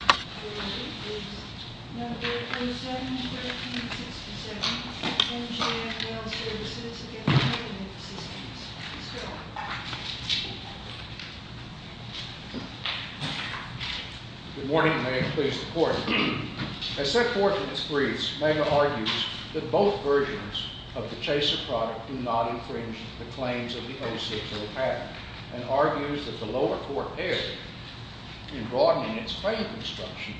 Good morning. May it please the Court. As set forth in its briefs, Mega argues that both versions of the Chaser product do not infringe the claims of the 060 patent, and argues that the lower court erred in broadening its claim construction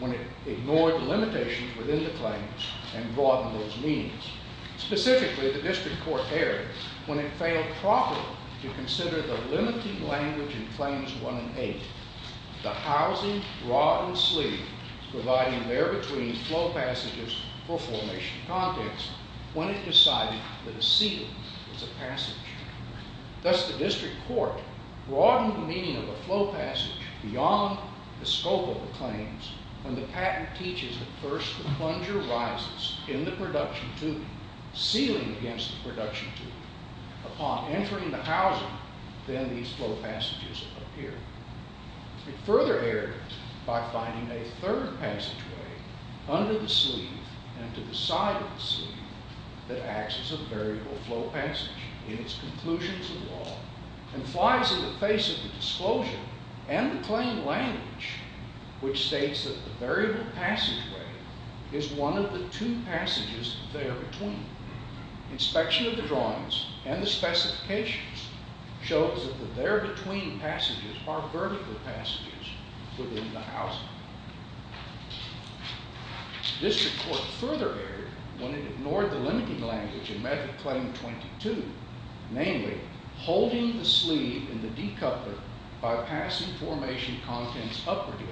when it ignored the limitations within the claims and broadened those meanings. Specifically, the district court erred when it failed properly to consider the limiting language in Claims 1 and 8, the housing, rod, and sleeve, providing where-between flow passages for formation context, when it decided that a seal was a passage. Thus, the district court broadened the meaning of a flow passage beyond the scope of the claims when the patent teaches that first the plunger rises in the production tube, sealing against the production tube. Upon entering the housing, then these flow passages appear. It further erred by finding a third passageway, under the sleeve and to the side of the sleeve, that acts as a variable flow passage in its conclusions of law, and flies in the face of the disclosure and the claim language, which states that the variable passageway is one of the two passages there-between. Inspection of the drawings and the specifications shows that the there-between passages are vertical passages within the housing. The district court further erred when it ignored the limiting language in Method Claim 22, namely, holding the sleeve in the decoupler by passing formation contents upwardly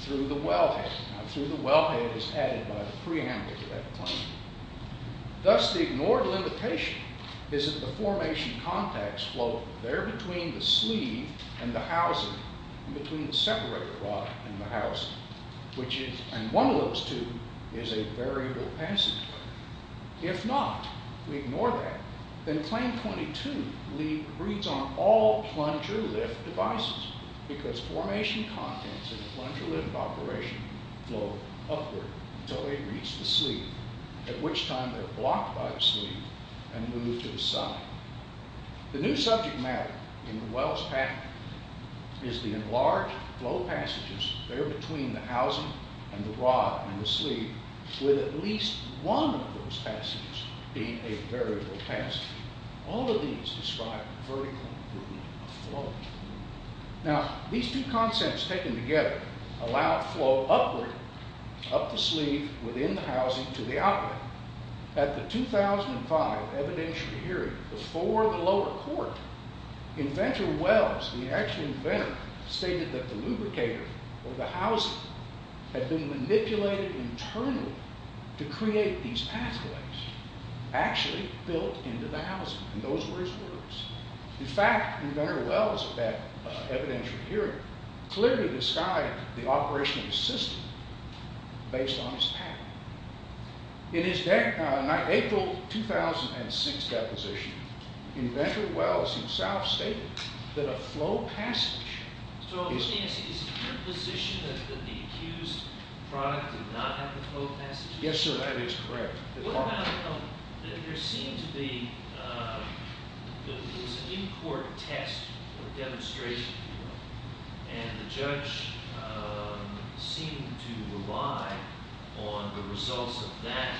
through the wellhead. Now, through the wellhead is added by the preamble to that claim. Thus, the ignored limitation is that the formation contacts flow there-between the sleeve and the housing, and between the separator rod and the housing, and one of those two is a variable passageway. If not, we ignore that, then Claim 22 reads on all plunger lift devices, because formation contents in a plunger lift operation flow upward until they reach the sleeve, at which time they're blocked by the sleeve and moved to the side. The new subject matter in the Wells Pact is the enlarged flow passages there-between the housing and the rod and the sleeve, with at least one of those passages being a variable passageway. All of these describe vertical movement of flow. Now, these two concepts taken together allow flow upward, up the sleeve, within the housing to the outlet. Now, at the 2005 evidentiary hearing, before the lower court, Inventor Wells, the actual inventor, stated that the lubricator of the housing had been manipulated internally to create these pathways actually built into the housing, and those were his words. In fact, Inventor Wells, at that evidentiary hearing, clearly described the operation of the system based on his patent. In his April 2006 deposition, Inventor Wells himself stated that a flow passage… So, is it your position that the accused product did not have the flow passages? Yes, sir, that is correct. What about, there seemed to be, there was a new court test or demonstration, and the judge seemed to rely on the results of that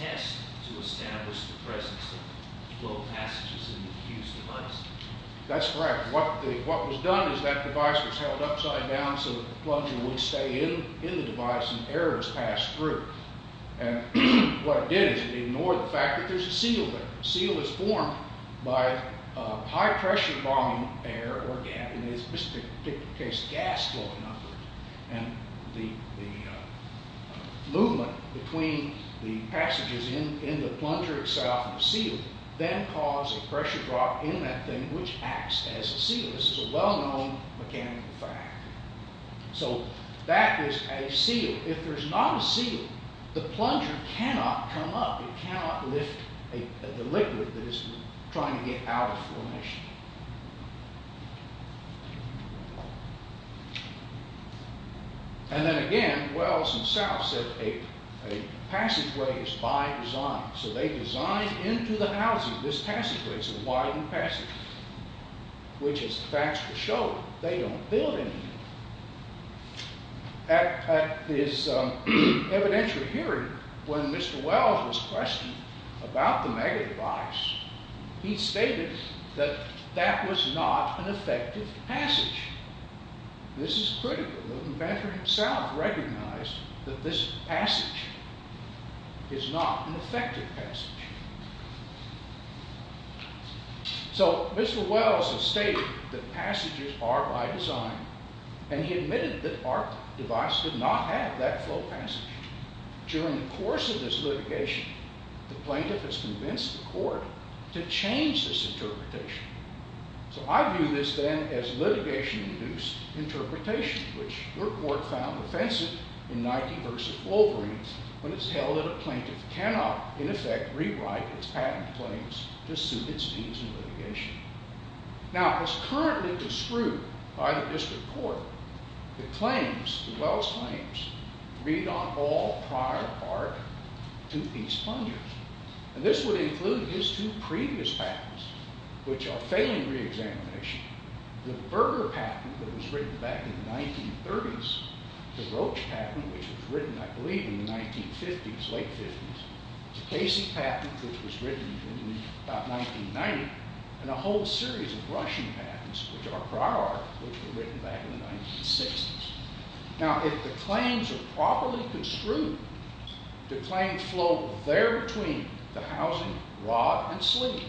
test to establish the presence of flow passages in the accused device? That's correct. What was done is that device was held upside down so that the plunger would stay in the device and air was passed through, and what it did is it ignored the fact that there's a seal there. A seal is formed by high-pressure volume air or gas, in this particular case gas flowing upward, and the movement between the passages in the plunger itself and the seal then caused a pressure drop in that thing which acts as a seal. This is a well-known mechanical fact. So, that is a seal. If there's not a seal, the plunger cannot come up, it cannot lift the liquid that is trying to get out of formation. And then again, Wells himself said a passageway is by design, so they designed into the housing this passageway, it's a widened passageway, which is the facts will show they don't build anything. At this evidential hearing, when Mr. Wells was questioned about the mega-device, he stated that that was not an effective passage. This is critical. The inventor himself recognized that this passage is not an effective passage. So, Mr. Wells has stated that passages are by design, and he admitted that our device did not have that flow passage. During the course of this litigation, the plaintiff has convinced the court to change this interpretation. So, I view this then as litigation-induced interpretation, which your court found offensive in 90 versus Wolverine, when it's held that a plaintiff cannot, in effect, rewrite its patent claims to suit its needs in litigation. Now, as currently disproved by the district court, the claims, the Wells claims, read on all prior art to these plungers. And this would include his two previous patents, which are failing re-examination, the Berger patent that was written back in the 1930s, the Roach patent, which was written, I believe, in the 1950s, late 50s, the Casey patent, which was written in about 1990, and a whole series of Russian patents, which are prior art, which were written back in the 1960s. Now, if the claims are properly construed, the claims flow there between the housing, rod, and sleeve,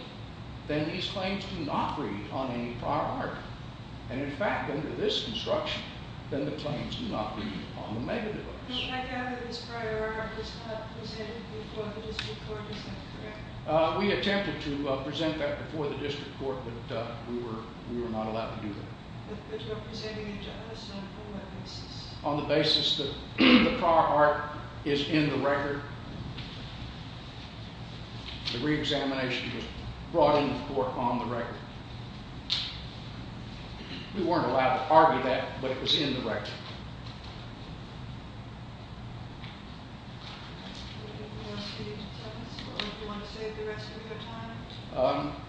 then these claims do not read on any prior art. And, in fact, under this construction, then the claims do not read on the mega-device. I gather this prior art was not presented before the district court. Is that correct? We attempted to present that before the district court, but we were not allowed to do that. But you're presenting it to us on what basis? On the basis that the prior art is in the record. The re-examination was brought into court on the record. We weren't allowed to argue that, but it was in the record. Do you want to save the rest of your time?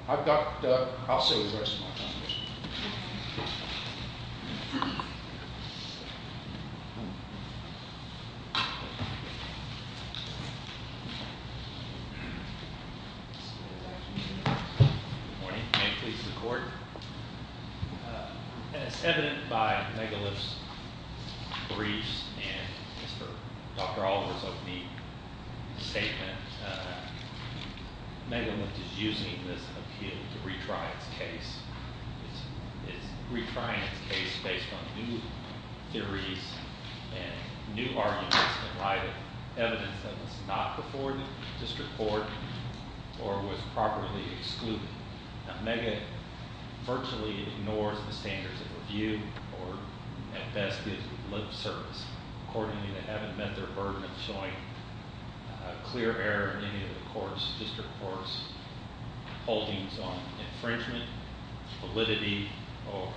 I've got, I'll save the rest of my time. Good morning. May it please the court. As evident by Megalith's briefs and Dr. Oliver's opening statement, Megalith is using this appeal to retry its case. It's retrying its case based on new theories and new arguments in light of evidence that was not before the district court or was properly excluded. Now, MEGA virtually ignores the standards of review or, at best, is lip service. Accordingly, they haven't met their burden of showing a clear error in any of the court's, district court's, holdings on infringement, validity, or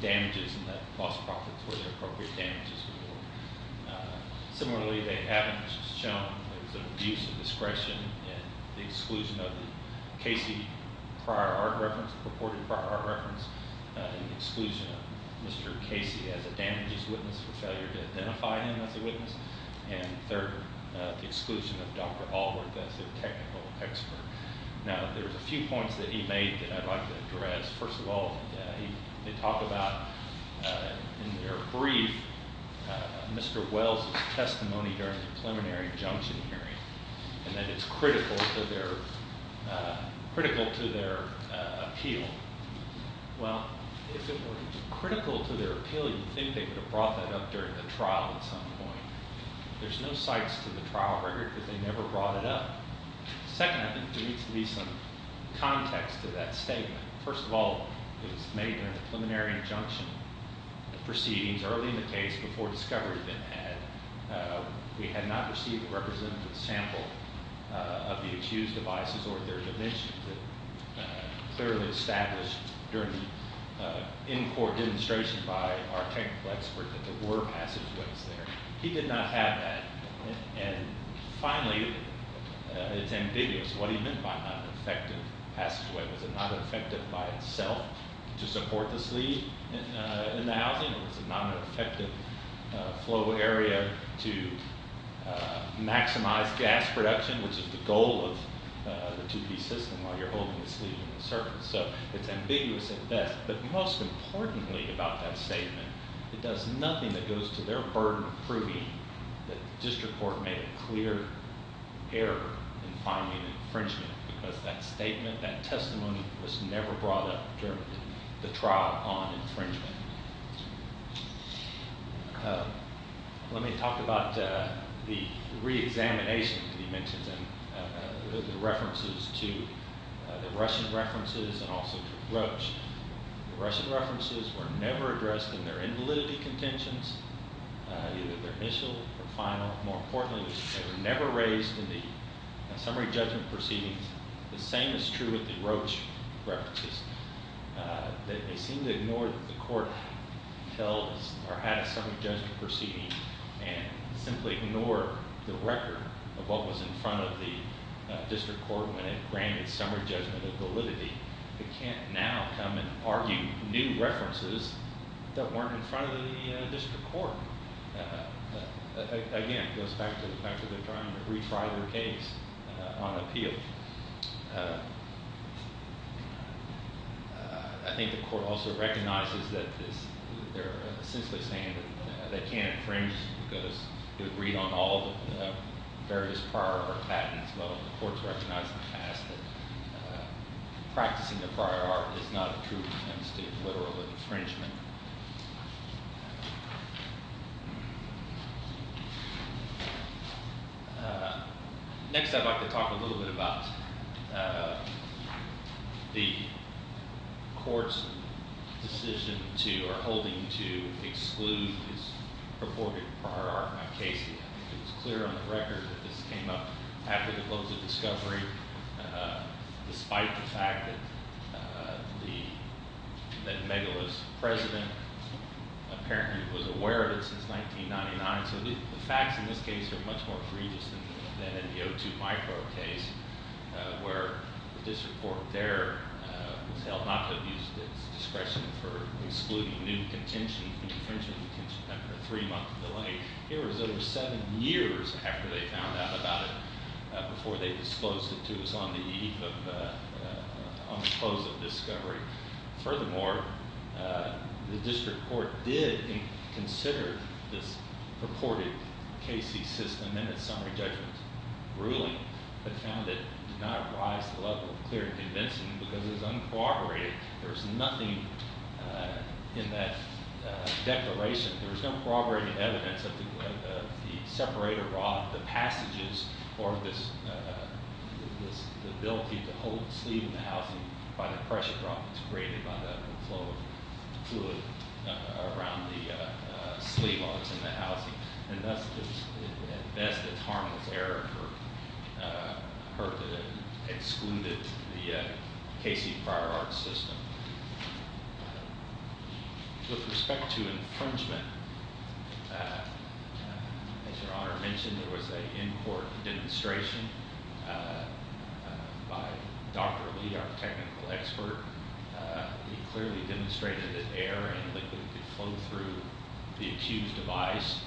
damages in that cost profit to where the appropriate damages were. Similarly, they haven't shown abuse of discretion in the exclusion of the Casey prior art reference, purported prior art reference, the exclusion of Mr. Casey as a damages witness for failure to identify him as a witness, and third, the exclusion of Dr. Allworth as their technical expert. Now, there's a few points that he made that I'd like to address. First of all, they talk about in their brief Mr. Wells' testimony during the preliminary injunction hearing and that it's critical to their, critical to their appeal. Well, if it were critical to their appeal, you'd think they would have brought that up during the trial at some point. There's no cites to the trial record because they never brought it up. Second, I think there needs to be some context to that statement. First of all, it was made in a preliminary injunction proceedings early in the case before discovery had been had. We had not received a representative sample of the accused's devices or their dimensions that clearly established during the in-court demonstration by our technical expert that there were passageways there. He did not have that. And finally, it's ambiguous what he meant by not an effective passageway. Was it not effective by itself to support the sleeve in the housing? Was it not an effective flow area to maximize gas production, which is the goal of the two-piece system while you're holding the sleeve in the circuit? So it's ambiguous at best. But most importantly about that statement, it does nothing that goes to their burden of proving that the district court made a clear error in finding infringement because that statement, that testimony was never brought up during the trial on infringement. Let me talk about the reexamination dimensions and the references to the Russian references and also to Roach. The Russian references were never addressed in their invalidity contentions, either their initial or final. More importantly, they were never raised in the summary judgment proceedings. The same is true with the Roach references. They seem to ignore that the court held or had a summary judgment proceeding and simply ignore the record of what was in front of the district court when it granted summary judgment of validity. It can't now come and argue new references that weren't in front of the district court. Again, it goes back to the fact that they're trying to retry their case on appeal. I think the court also recognizes that they're essentially saying that they can't infringe because it would read on all the various prior patents. But the court has recognized in the past that practicing the prior art is not a true attempt to literal infringement. Next, I'd like to talk a little bit about the court's decision to or holding to exclude this purported prior art on Casey. I think it's clear on the record that this came up after the close of discovery, despite the fact that Megillah's president apparently was aware of it since 1999. So the facts in this case are much more egregious than in the O2 micro case where this report there was held not to abuse discretion for excluding new contention, new infringement contention. A three-month delay. Here it was over seven years after they found out about it before they disclosed it to us on the eve of, on the close of discovery. Furthermore, the district court did consider this purported Casey system and its summary judgment ruling, but found it did not rise to the level of clear and convincing because it was uncooperative. There's nothing in that declaration, there's no corroborated evidence of the separator rod, the passages, or this ability to hold the sleeve in the housing by the pressure drop that's created by the flow of fluid around the sleeve while it's in the housing. And thus, at best, it's harmless error for her to have excluded the Casey prior art system. With respect to infringement, as Your Honor mentioned, there was an in-court demonstration by Dr. Lee, our technical expert. He clearly demonstrated that air and liquid could flow through the accused device.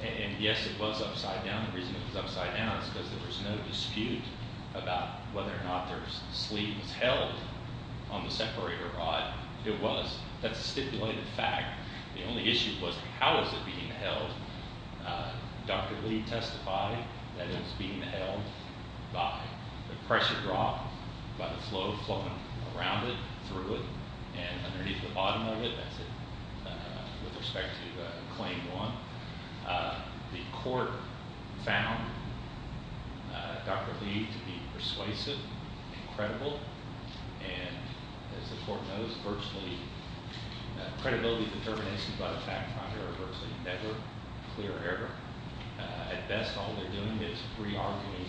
And yes, it was upside down. The reason it was upside down is because there was no dispute about whether or not their sleeve was held on the separator rod. It was. That's a stipulated fact. The only issue was how is it being held. Dr. Lee testified that it was being held by the pressure drop, by the flow flowing around it, through it, and underneath the bottom of it. That's it. With respect to claim one, the court found Dr. Lee to be persuasive and credible. And as the court knows, virtually credibility determinations by the fact finder are virtually never clear error. At best, all they're doing is re-arguing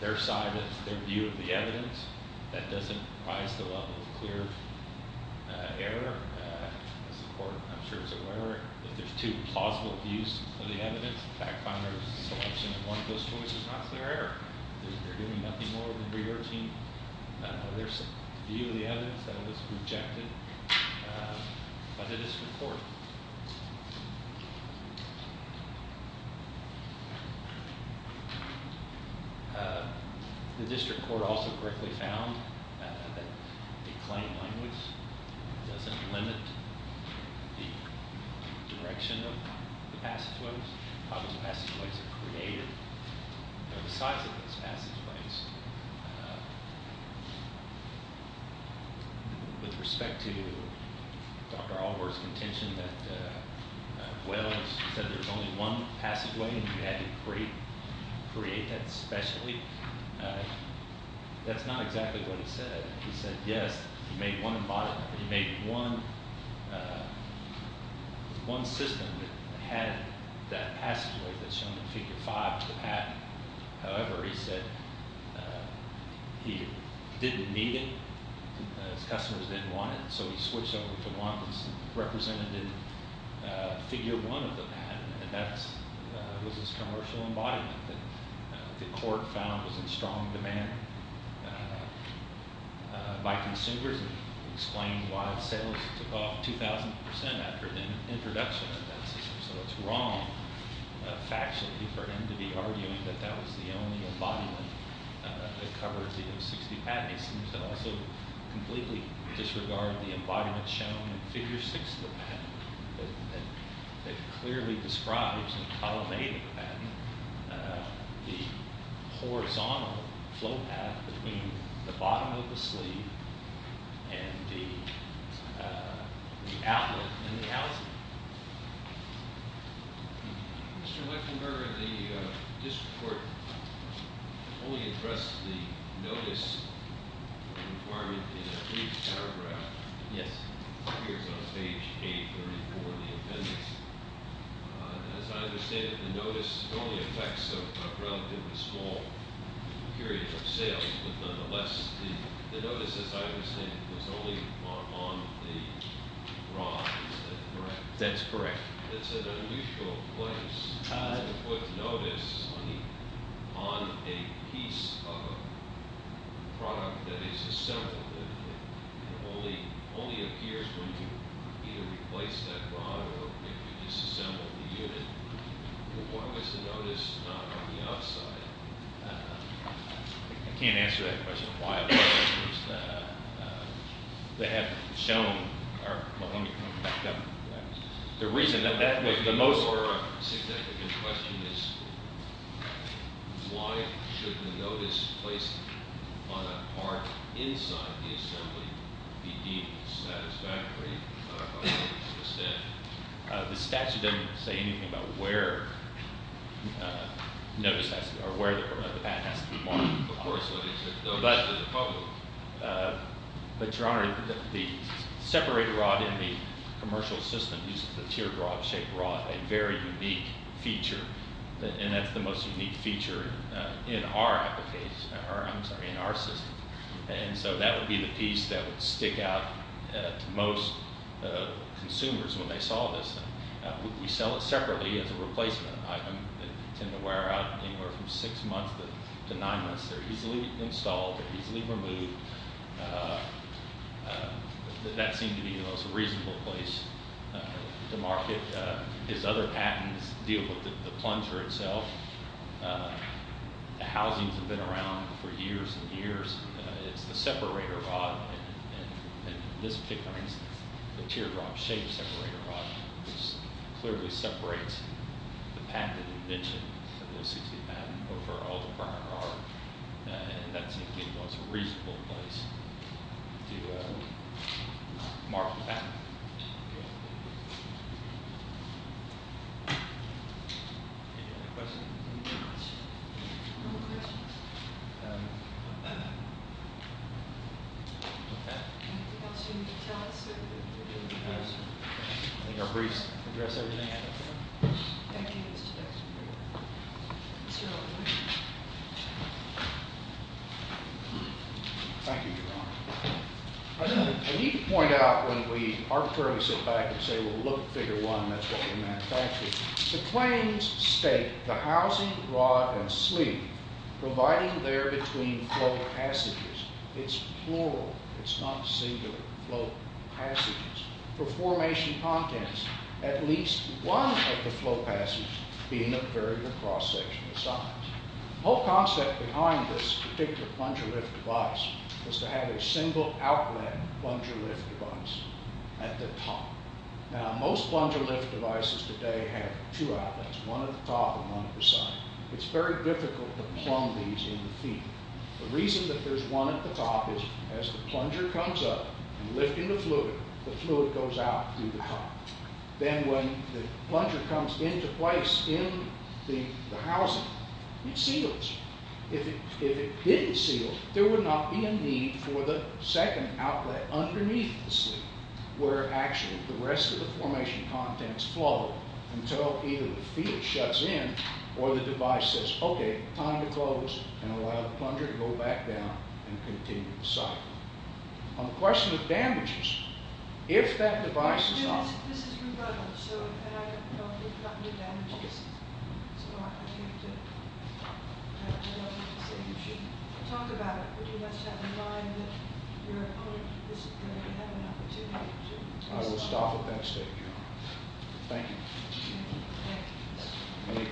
their side, their view of the evidence. That doesn't rise to the level of clear error. As the court, I'm sure, is aware, if there's two plausible views of the evidence, the fact finder's selection in one of those choices is not clear error. They're doing nothing more than re-arguing their view of the evidence that was rejected by the district court. The district court also quickly found that the claim language doesn't limit the direction of the passageways, how those passageways are created. Or the size of those passageways. With respect to Dr. Allworth's contention that, well, he said there's only one passageway and you had to create that specially. That's not exactly what he said. He said yes, he made one embodiment. He made one system that had that passageway that's shown in figure five of the patent. However, he said he didn't need it. His customers didn't want it. So he switched over to one that's represented in figure one of the patent. And that was his commercial embodiment that the court found was in strong demand. By consumers, it explained why sales took off 2,000% after the introduction of that system. So it's wrong factually for him to be arguing that that was the only embodiment that covered the O60 patent. He seems to also completely disregard the embodiment shown in figure six of the patent. That clearly describes and culminated the horizontal flow path between the bottom of the sleeve and the outlet in the house. Mr. Lechinger, the district court only addressed the notice requirement in a brief paragraph. Yes. It appears on page 834 of the appendix. As I understand it, the notice only affects a relatively small period of sales. The notice, as I understand it, was only on the rod. Is that correct? That's correct. It's an unusual place to put notice on a piece of a product that is assembled. It only appears when you either replace that rod or if you disassemble the unit. Why was the notice not on the outside? I can't answer that question. Why was the notice not on the outside? They have shown—or let me come back up to that. The reason that that was the most— Your significant question is why shouldn't a notice placed on a part inside the assembly be deemed satisfactorily by the statute? The statute doesn't say anything about where the patent has to be marked. Of course it doesn't. But, Your Honor, the separated rod in the commercial system uses a teardrop-shaped rod, a very unique feature. And that's the most unique feature in our system. And so that would be the piece that would stick out to most consumers when they saw this. We sell it separately as a replacement item. They tend to wear out anywhere from six months to nine months. They're easily installed. They're easily removed. That seemed to be the most reasonable place to market. His other patents deal with the plunger itself. The housings have been around for years and years. It's the separator rod, and in this particular instance, the teardrop-shaped separator rod, which clearly separates the patent and invention of the OCC patent over all the prior art. And that seemed to be the most reasonable place to mark the patent. Okay. Any other questions? No questions. Okay. Anything else you need to tell us? I think our briefs address everything. Thank you, Mr. Judge. Mr. O'Brien. Thank you, Your Honor. I need to point out when we arbitrarily sit back and say, well, look at figure one, and that's what we manufactured. The claims state the housing, rod, and sleeve providing there between flow passages. It's plural. It's not singular. Flow passages. For formation contents, at least one of the flow passages being a variable cross-sectional size. The whole concept behind this particular plunger lift device was to have a single outlet plunger lift device at the top. Now, most plunger lift devices today have two outlets, one at the top and one at the side. It's very difficult to plumb these in the feed. The reason that there's one at the top is as the plunger comes up and lifting the fluid, the fluid goes out through the top. Then when the plunger comes into place in the housing, it seals. If it didn't seal, there would not be a need for the second outlet underneath the sleeve where actually the rest of the formation contents flow until either the feed shuts in or the device says, okay, time to close and allow the plunger to go back down and continue the cycle. On the question of damages, if that device is off... This is rebuttal, so I don't think about any damages. So I think you should talk about it. But you must have in mind that your opponent is going to have an opportunity to... I will stop at that stage, Your Honor. Thank you. Thank you. Any questions?